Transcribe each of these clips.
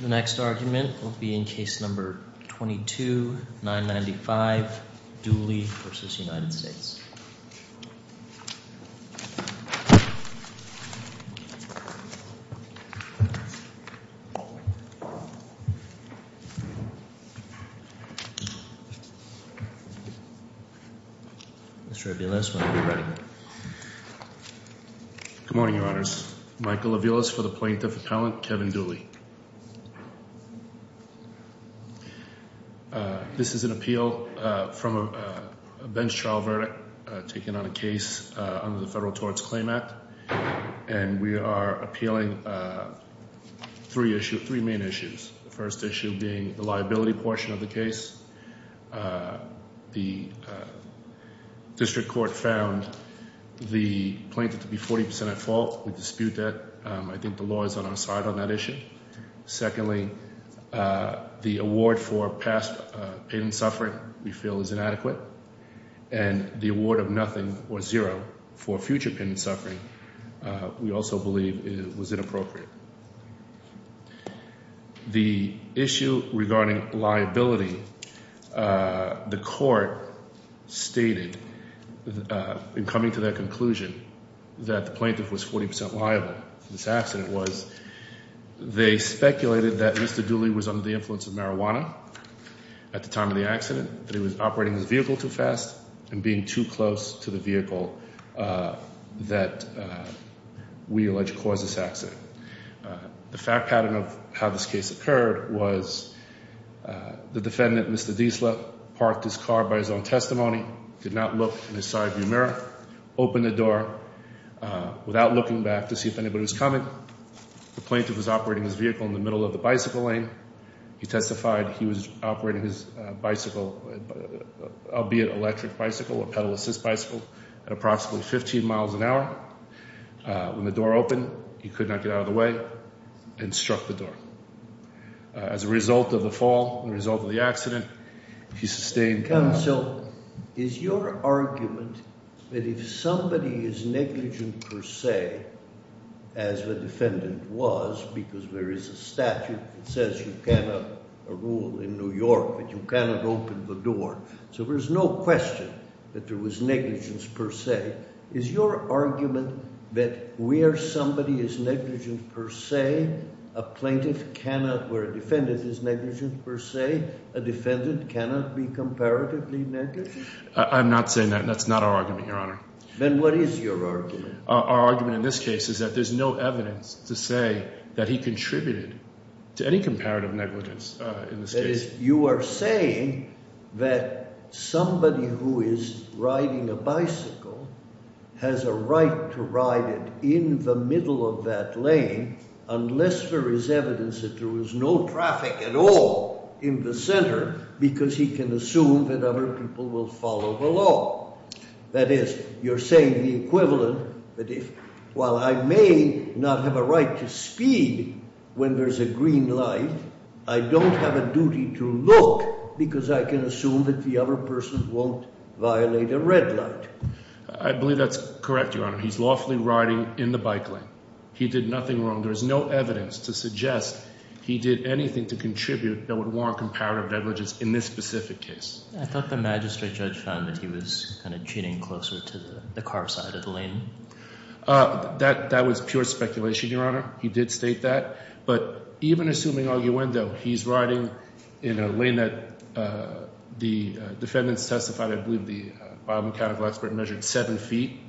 The next argument will be in case number 22, 995, Dooley v. United States. Mr. Aviles, when you're ready. Good morning, Your Honors. Michael Aviles for the Plaintiff Appellant, Kevin Dooley. This is an appeal from a bench trial verdict taken on a case under the Federal Torts Claim Act. And we are appealing three main issues. The first issue being the liability portion of the case. The District Court found the plaintiff to be 40% at fault. We dispute that. I think the law is on our side on that issue. Secondly, the award for past pain and suffering we feel is inadequate. And the award of nothing or zero for future pain and suffering we also believe was inappropriate. The issue regarding liability, the court stated in coming to that conclusion that the plaintiff was 40% liable. The fact pattern of this accident was they speculated that Mr. Dooley was under the influence of marijuana at the time of the accident. That he was operating his vehicle too fast and being too close to the vehicle that we allege caused this accident. The fact pattern of how this case occurred was the defendant, Mr. Diesler, parked his car by his own testimony. Did not look in the side view mirror. Opened the door without looking back to see if anybody was coming. The plaintiff was operating his vehicle in the middle of the bicycle lane. He testified he was operating his bicycle, albeit electric bicycle or pedal assist bicycle, at approximately 15 miles an hour. When the door opened, he could not get out of the way and struck the door. As a result of the fall, the result of the accident, he sustained... Counsel, is your argument that if somebody is negligent per se, as the defendant was, because there is a statute that says you cannot rule in New York, that you cannot open the door, so there's no question that there was negligence per se. Is your argument that where somebody is negligent per se, a plaintiff cannot... Where a defendant is negligent per se, a defendant cannot be comparatively negligent? I'm not saying that. That's not our argument, Your Honor. Then what is your argument? Our argument in this case is that there's no evidence to say that he contributed to any comparative negligence in this case. That is, you are saying that somebody who is riding a bicycle has a right to ride it in the middle of that lane unless there is evidence that there was no traffic at all in the center, because he can assume that other people will follow the law. That is, you're saying the equivalent that if, while I may not have a right to speed when there's a green light, I don't have a duty to look because I can assume that the other person won't violate a red light. I believe that's correct, Your Honor. He's lawfully riding in the bike lane. He did nothing wrong. There's no evidence to suggest he did anything to contribute that would warrant comparative negligence in this specific case. I thought the magistrate judge found that he was kind of cheating closer to the car side of the lane. That was pure speculation, Your Honor. He did state that. But even assuming arguendo, he's riding in a lane that the defendants testified, I believe the biomechanical expert measured 7 feet.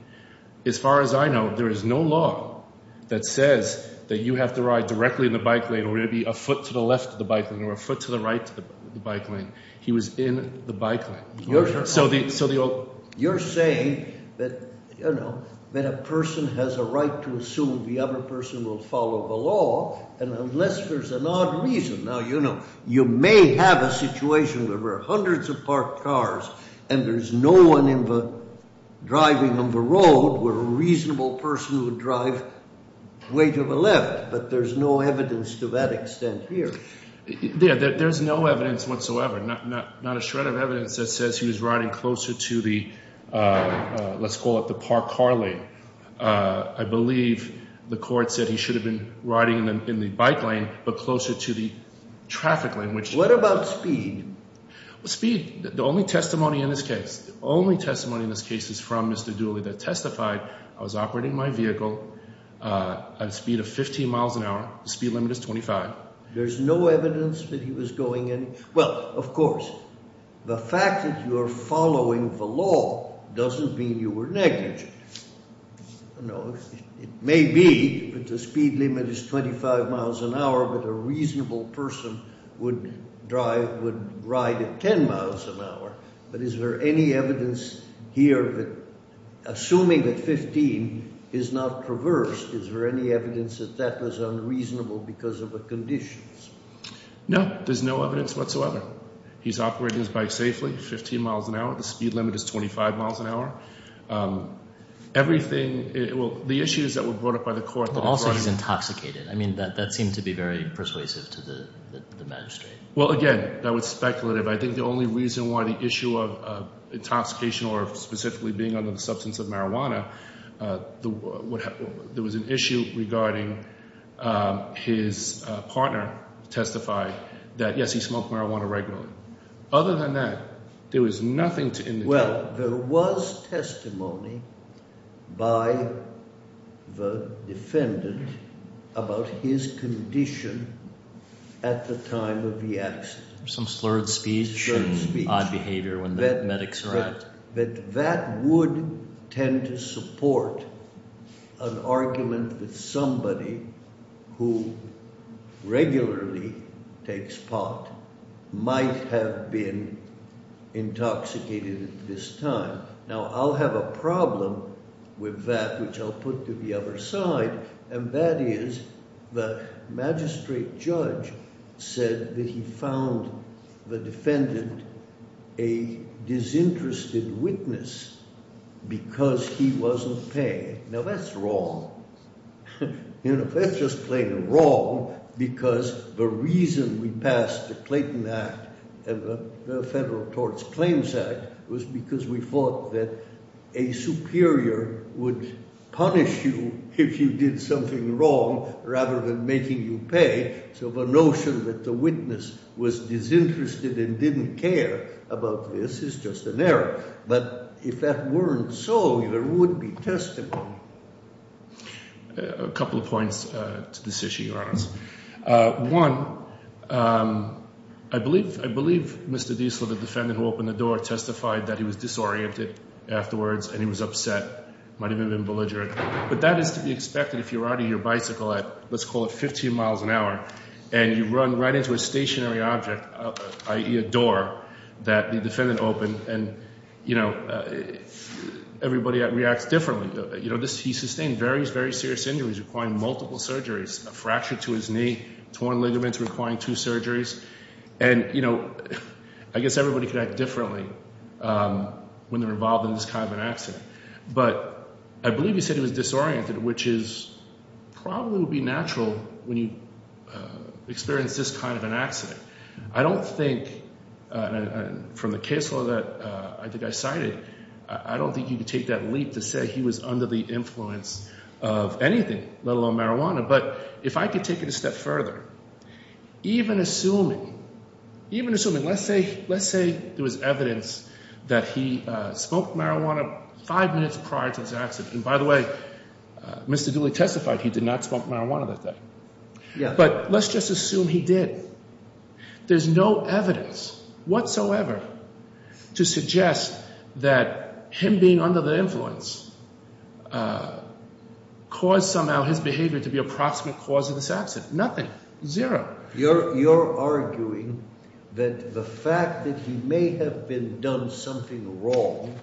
As far as I know, there is no law that says that you have to ride directly in the bike lane or maybe a foot to the left of the bike lane or a foot to the right of the bike lane. He was in the bike lane. You're saying that, you know, that a person has a right to assume the other person will follow the law and unless there's an odd reason. Now, you know, you may have a situation where there are hundreds of parked cars and there's no one driving on the road where a reasonable person would drive way to the left. But there's no evidence to that extent here. There's no evidence whatsoever, not a shred of evidence that says he was riding closer to the, let's call it the parked car lane. I believe the court said he should have been riding in the bike lane but closer to the traffic lane. What about speed? Speed, the only testimony in this case, the only testimony in this case is from Mr. Dooley that testified I was operating my vehicle at a speed of 15 miles an hour. The speed limit is 25. There's no evidence that he was going in. Well, of course, the fact that you are following the law doesn't mean you were negligent. You know, it may be that the speed limit is 25 miles an hour but a reasonable person would drive, would ride at 10 miles an hour. But is there any evidence here that, assuming that 15 is not perverse, is there any evidence that that was unreasonable because of the conditions? No, there's no evidence whatsoever. He's operating his bike safely, 15 miles an hour. The speed limit is 25 miles an hour. Everything, well, the issues that were brought up by the court. Also, he's intoxicated. I mean, that seemed to be very persuasive to the magistrate. Well, again, that was speculative. I think the only reason why the issue of intoxication or specifically being under the substance of marijuana, there was an issue regarding his partner testified that, yes, he smoked marijuana regularly. Other than that, there was nothing to indicate. Well, there was testimony by the defendant about his condition at the time of the accident. Some slurred speech and odd behavior when the medics arrived. That would tend to support an argument that somebody who regularly takes pot might have been intoxicated at this time. Now, I'll have a problem with that, which I'll put to the other side, and that is the magistrate judge said that he found the defendant a disinterested witness because he wasn't paying. Now, that's wrong. That's just plain wrong because the reason we passed the Clayton Act and the Federal Tort Claims Act was because we thought that a superior would punish you if you did something wrong rather than making you pay. So the notion that the witness was disinterested and didn't care about this is just an error. But if that weren't so, there would be testimony. A couple of points to this issue, your Honor. One, I believe Mr. Diesel, the defendant who opened the door, testified that he was disoriented afterwards and he was upset. It might have even been belligerent. But that is to be expected if you're riding your bicycle at, let's call it 15 miles an hour, and you run right into a stationary object, i.e. a door that the defendant opened, and everybody reacts differently. He sustained various, very serious injuries requiring multiple surgeries, a fracture to his knee, torn ligaments requiring two surgeries. And I guess everybody could act differently when they're involved in this kind of an accident. But I believe he said he was disoriented, which probably would be natural when you experience this kind of an accident. I don't think, from the case law that I cited, I don't think you could take that leap to say he was under the influence of anything, let alone marijuana. But if I could take it a step further, even assuming, even assuming, let's say there was evidence that he smoked marijuana five minutes prior to this accident. And by the way, Mr. Dooley testified he did not smoke marijuana that day. But let's just assume he did. There's no evidence whatsoever to suggest that him being under the influence caused somehow his behavior to be a proximate cause of this accident. Nothing. Zero. You're arguing that the fact that he may have been done something wrong,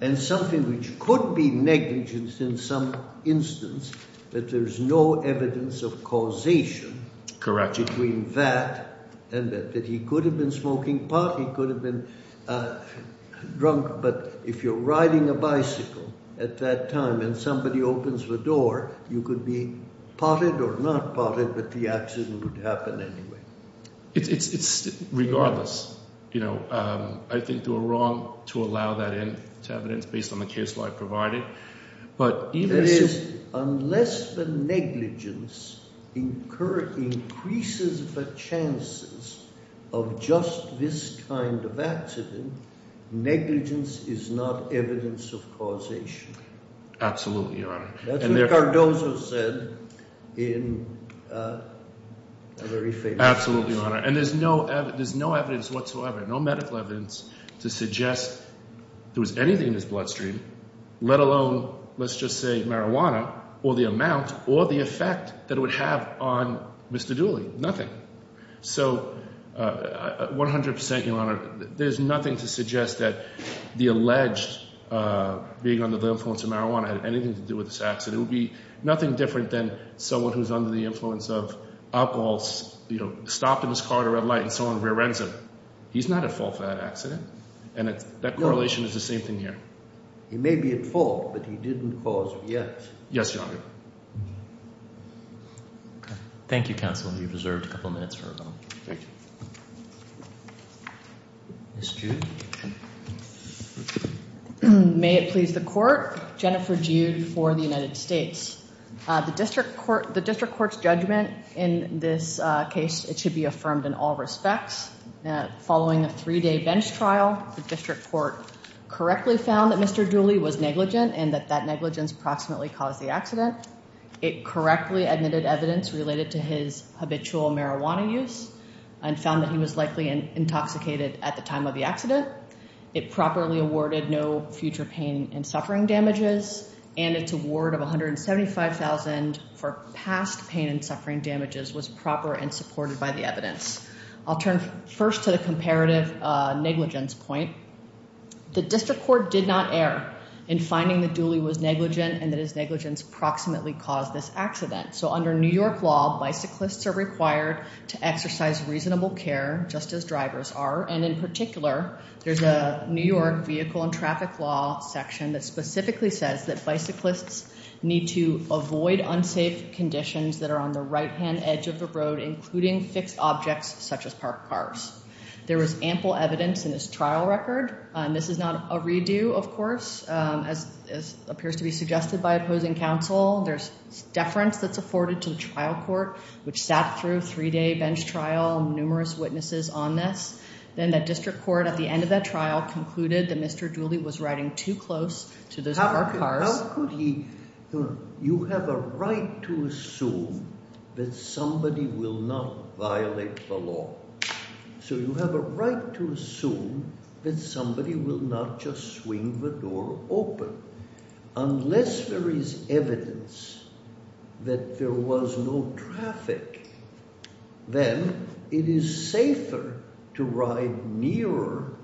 and something which could be negligence in some instance, that there's no evidence of causation. Correct. And that he could have been smoking pot, he could have been drunk. But if you're riding a bicycle at that time and somebody opens the door, you could be potted or not potted, but the accident would happen anyway. It's regardless. You know, I think you're wrong to allow that in to evidence based on the case law I provided. That is, unless the negligence increases the chances of just this kind of accident, negligence is not evidence of causation. Absolutely, Your Honor. That's what Cardozo said in a very famous speech. Absolutely, Your Honor. And there's no evidence whatsoever, no medical evidence to suggest there was anything in his bloodstream, let alone, let's just say marijuana, or the amount or the effect that it would have on Mr. Dooley. Nothing. So 100%, Your Honor, there's nothing to suggest that the alleged being under the influence of marijuana had anything to do with this accident. It would be nothing different than someone who's under the influence of alcohol stopped in his car at a red light and someone rear ends him. He's not at fault for that accident. And that correlation is the same thing here. He may be at fault, but he didn't cause it. Yes. Yes, Your Honor. Thank you, Counsel. You've reserved a couple of minutes for a moment. Thank you. Ms. Jude. May it please the Court. Jennifer Jude for the United States. The District Court's judgment in this case, it should be affirmed in all respects. Following a three day bench trial, the District Court correctly found that Mr Dooley was negligent and that that negligence approximately caused the accident. It correctly admitted evidence related to his habitual marijuana use and found that he was likely intoxicated at the time of the accident. It properly awarded no future pain and suffering damages, and its award of $175,000 for past pain and suffering damages was proper and supported by the evidence. I'll turn first to the comparative negligence point. The District Court did not err in finding that Dooley was negligent and that his negligence approximately caused this accident. So under New York law, bicyclists are required to exercise reasonable care, just as drivers are. And in particular, there's a New York vehicle and traffic law section that specifically says that bicyclists need to avoid unsafe conditions that are on the right-hand edge of the road, including fixed objects such as parked cars. There was ample evidence in this trial record. This is not a redo, of course, as appears to be suggested by opposing counsel. There's deference that's afforded to the trial court, which sat through a three-day bench trial, numerous witnesses on this. Then the district court at the end of that trial concluded that Mr. Dooley was riding too close to those parked cars. How could he – you have a right to assume that somebody will not violate the law. So you have a right to assume that somebody will not just swing the door open. Unless there is evidence that there was no traffic, then it is safer to ride nearer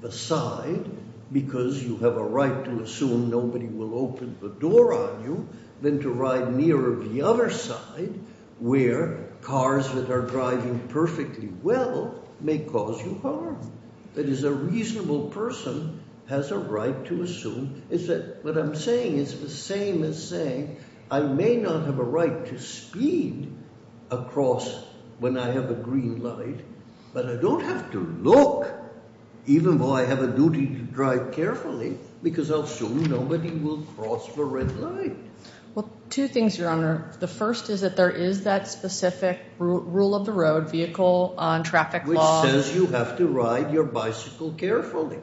the side because you have a right to assume nobody will open the door on you than to ride nearer the other side where cars that are driving perfectly well may cause you harm. That is, a reasonable person has a right to assume – what I'm saying is the same as saying I may not have a right to speed across when I have a green light, but I don't have to look even though I have a duty to drive carefully because I'll assume nobody will cross the red light. Well, two things, Your Honor. The first is that there is that specific rule of the road, vehicle on traffic law. Which says you have to ride your bicycle carefully.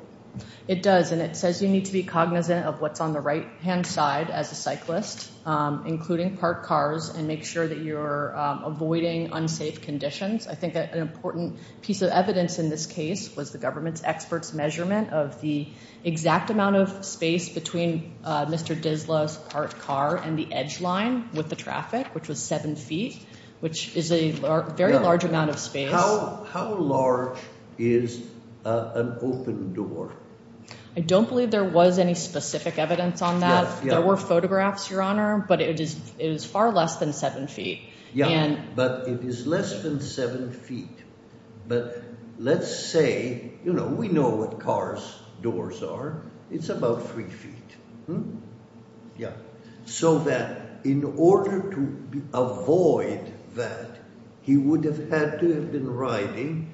It does, and it says you need to be cognizant of what's on the right-hand side as a cyclist, including parked cars, and make sure that you're avoiding unsafe conditions. I think an important piece of evidence in this case was the government's experts' measurement of the exact amount of space between Mr. Dizla's parked car and the edge line with the traffic, which was 7 feet, which is a very large amount of space. How large is an open door? I don't believe there was any specific evidence on that. There were photographs, Your Honor, but it is far less than 7 feet. Yeah, but it is less than 7 feet. But let's say, you know, we know what cars' doors are. It's about 3 feet. Yeah, so that in order to avoid that, he would have had to have been riding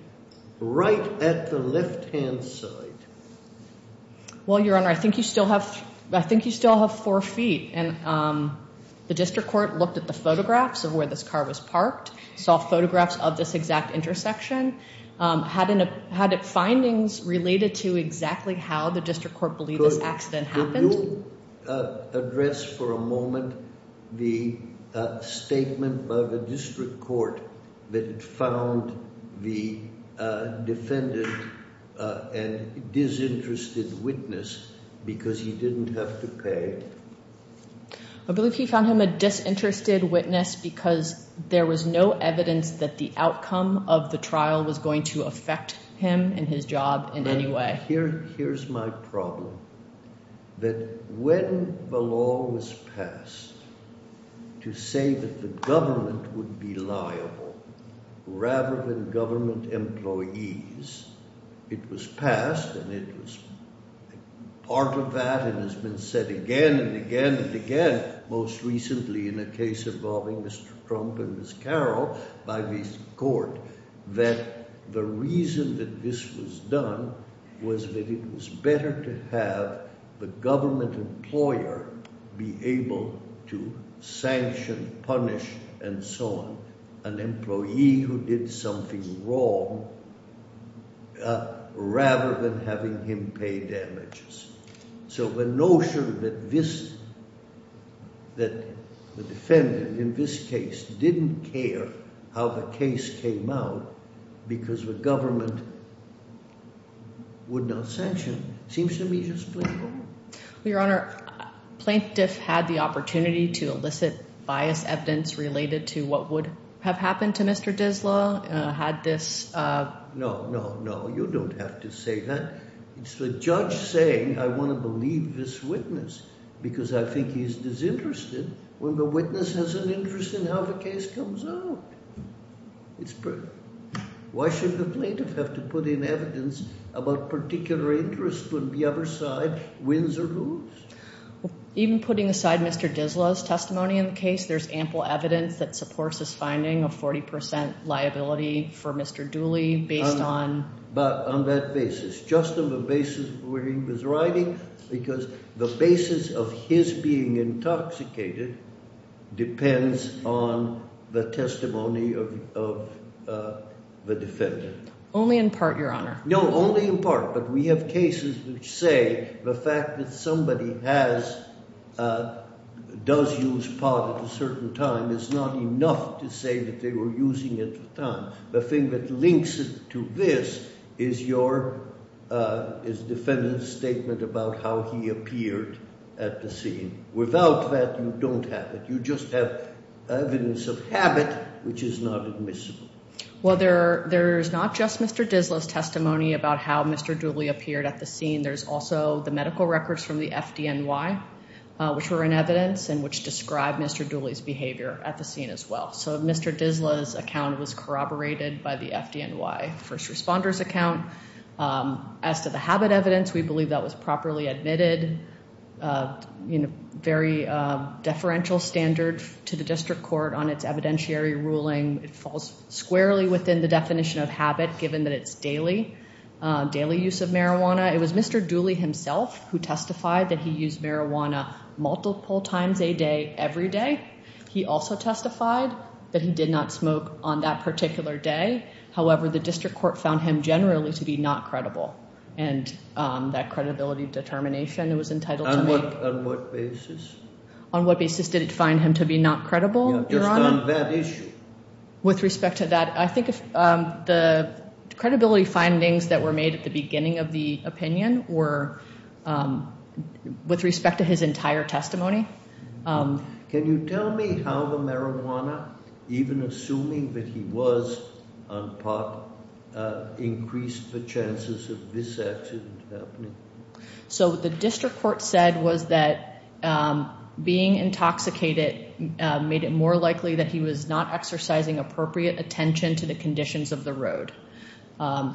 right at the left-hand side. Well, Your Honor, I think you still have 4 feet. And the district court looked at the photographs of where this car was parked, saw photographs of this exact intersection, had findings related to exactly how the district court believed this accident happened. Could you address for a moment the statement by the district court that found the defendant a disinterested witness because he didn't have to pay? I believe he found him a disinterested witness because there was no evidence that the outcome of the trial was going to affect him and his job in any way. Here's my problem, that when the law was passed to say that the government would be liable rather than government employees, it was passed and it was part of that and has been said again and again and again, most recently in a case involving Mr. Trump and Ms. Carroll by the court, that the reason that this was done was that it was better to have the government employer be able to sanction, punish, and so on an employee who did something wrong rather than having him pay damages. So the notion that this, that the defendant in this case didn't care how the case came out because the government would not sanction seems to me just political. Your Honor, Plaintiff had the opportunity to elicit biased evidence related to what would have happened to Mr. Dizla, had this... No, no, no, you don't have to say that. It's the judge saying I want to believe this witness because I think he's disinterested when the witness has an interest in how the case comes out. Why should the plaintiff have to put in evidence about particular interests when the other side wins or loses? Even putting aside Mr. Dizla's testimony in the case, there's ample evidence that supports his finding of 40% liability for Mr. Dooley based on... But on that basis, just on the basis where he was writing because the basis of his being intoxicated depends on the testimony of the defendant. Only in part, Your Honor. No, only in part, but we have cases which say the fact that somebody has, does use pot at a certain time is not enough to say that they were using it at the time. The thing that links it to this is your, is the defendant's statement about how he appeared at the scene. Without that, you don't have it. You just have evidence of habit, which is not admissible. Well, there's not just Mr. Dizla's testimony about how Mr. Dooley appeared at the scene. There's also the medical records from the FDNY, which were in evidence and which described Mr. Dooley's behavior at the scene as well. So Mr. Dizla's account was corroborated by the FDNY first responder's account. As to the habit evidence, we believe that was properly admitted in a very deferential standard to the district court on its evidentiary ruling. It falls squarely within the definition of habit, given that it's daily, daily use of marijuana. It was Mr. Dooley himself who testified that he used marijuana multiple times a day, every day. He also testified that he did not smoke on that particular day. However, the district court found him generally to be not credible, and that credibility determination was entitled to make. On what basis? On what basis did it find him to be not credible, Your Honor? Just on that issue. With respect to that, I think the credibility findings that were made at the beginning of the opinion were with respect to his entire testimony. Can you tell me how the marijuana, even assuming that he was on pot, increased the chances of this accident happening? So what the district court said was that being intoxicated made it more likely that he was not exercising appropriate attention to the conditions of the road.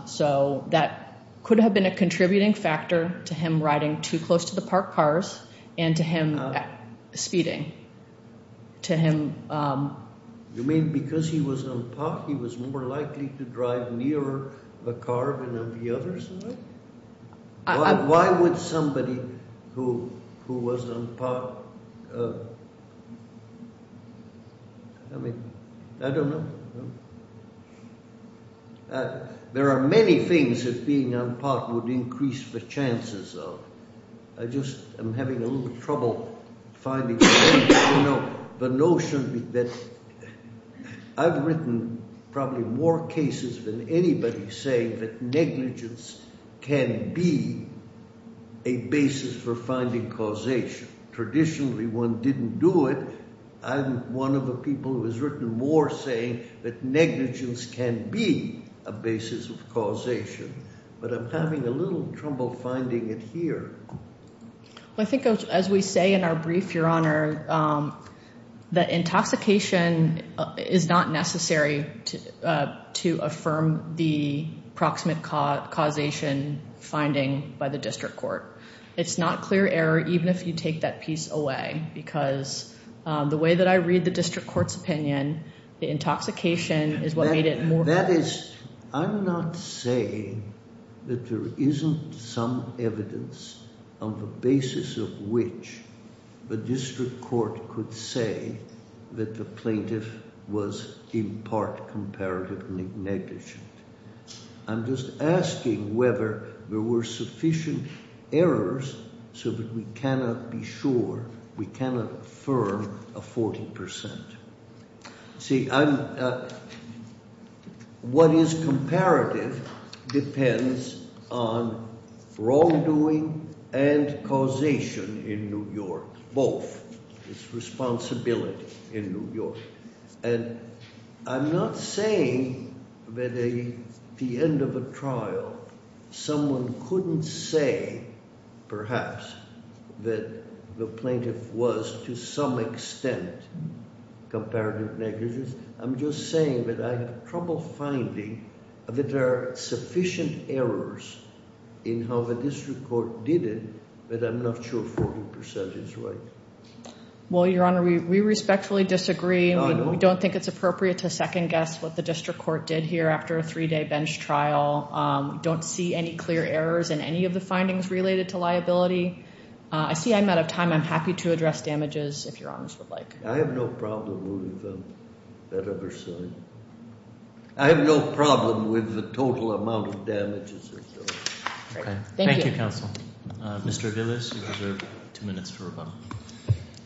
So that could have been a contributing factor to him riding too close to the parked cars and to him speeding. To him... You mean because he was on pot, he was more likely to drive near a car than on the other side? Why would somebody who was on pot... I mean, I don't know. There are many things that being on pot would increase the chances of. I just am having a little trouble finding the notion that I've written probably more cases than anybody saying that negligence can be a basis for finding causation. Traditionally, one didn't do it. I'm one of the people who has written more saying that negligence can be a basis of causation. But I'm having a little trouble finding it here. I think as we say in our brief, Your Honor, that intoxication is not necessary to affirm the proximate causation finding by the district court. It's not clear error even if you take that piece away because the way that I read the district court's opinion, the intoxication is what made it more... That is, I'm not saying that there isn't some evidence on the basis of which the district court could say that the plaintiff was in part comparative negligent. I'm just asking whether there were sufficient errors so that we cannot be sure, we cannot affirm a 40%. See, what is comparative depends on wrongdoing and causation in New York, both. It's responsibility in New York. And I'm not saying that at the end of a trial, someone couldn't say, perhaps, that the plaintiff was to some extent comparative negligent. I'm just saying that I have trouble finding that there are sufficient errors in how the district court did it that I'm not sure 40% is right. Well, Your Honor, we respectfully disagree. We don't think it's appropriate to second-guess what the district court did here after a three-day bench trial. We don't see any clear errors in any of the findings related to liability. I see I'm out of time. I'm happy to address damages if Your Honors would like. I have no problem with that other side. I have no problem with the total amount of damages. Thank you, Counsel. Mr. Aviles, you have two minutes for rebuttal.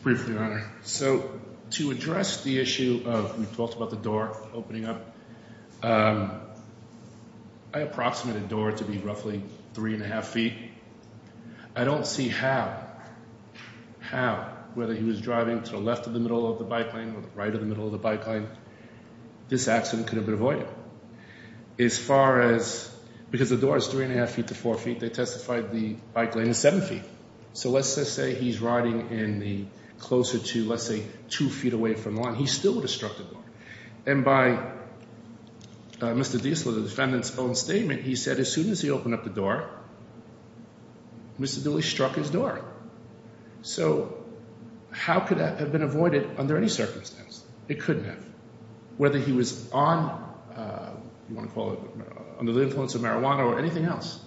Briefly, Your Honor. So to address the issue of we talked about the door opening up, I approximated the door to be roughly three and a half feet. I don't see how, how, whether he was driving to the left of the middle of the bike lane or the right of the middle of the bike lane, this accident could have been avoided. As far as, because the door is three and a half feet to four feet, they testified the bike lane is seven feet. So let's just say he's riding in the closer to, let's say, two feet away from the line, he still would have struck the door. And by Mr. Diesel, the defendant's own statement, he said as soon as he opened up the door, Mr. Dooley struck his door. So how could that have been avoided under any circumstance? It couldn't have. Whether he was on, you want to call it, under the influence of marijuana or anything else,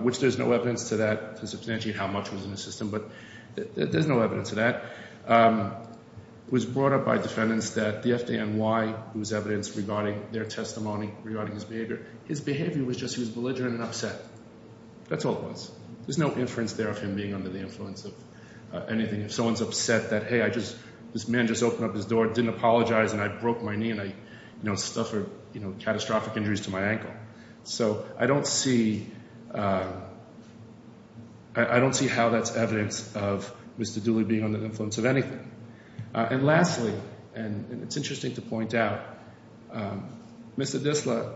which there's no evidence to that to substantiate how much was in the system, but there's no evidence of that, was brought up by defendants that the FDNY, whose evidence regarding their testimony regarding his behavior, his behavior was just he was belligerent and upset. That's all it was. There's no inference there of him being under the influence of anything. And if someone's upset that, hey, I just, this man just opened up his door, didn't apologize and I broke my knee and I, you know, suffered, you know, catastrophic injuries to my ankle. So I don't see, I don't see how that's evidence of Mr. Dooley being under the influence of anything. And lastly, and it's interesting to point out, Mr. Disla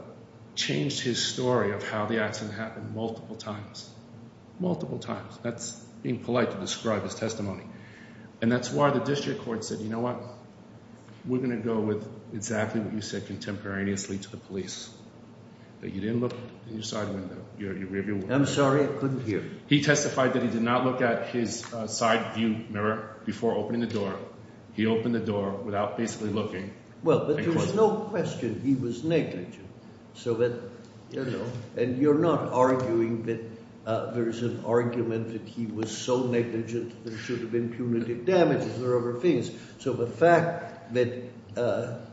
changed his story of how the accident happened multiple times. Multiple times. That's being polite to describe his testimony. And that's why the district court said, you know what, we're going to go with exactly what you said contemporaneously to the police. That you didn't look in your side window. I'm sorry, I couldn't hear. He testified that he did not look at his side view mirror before opening the door. He opened the door without basically looking. Well, but there was no question he was negligent. And you're not arguing that there is an argument that he was so negligent there should have been punitive damages or other things. So the fact that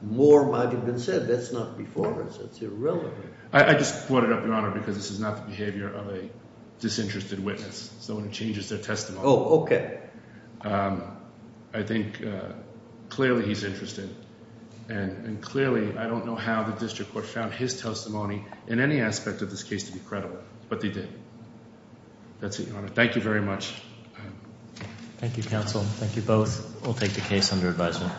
more might have been said, that's not before us. That's irrelevant. I just brought it up, Your Honor, because this is not the behavior of a disinterested witness, someone who changes their testimony. Oh, okay. I think clearly he's interested. And clearly, I don't know how the district court found his testimony in any aspect of this case to be credible. But they did. That's it, Your Honor. Thank you very much. Thank you, counsel. Thank you both. We'll take the case under advisement.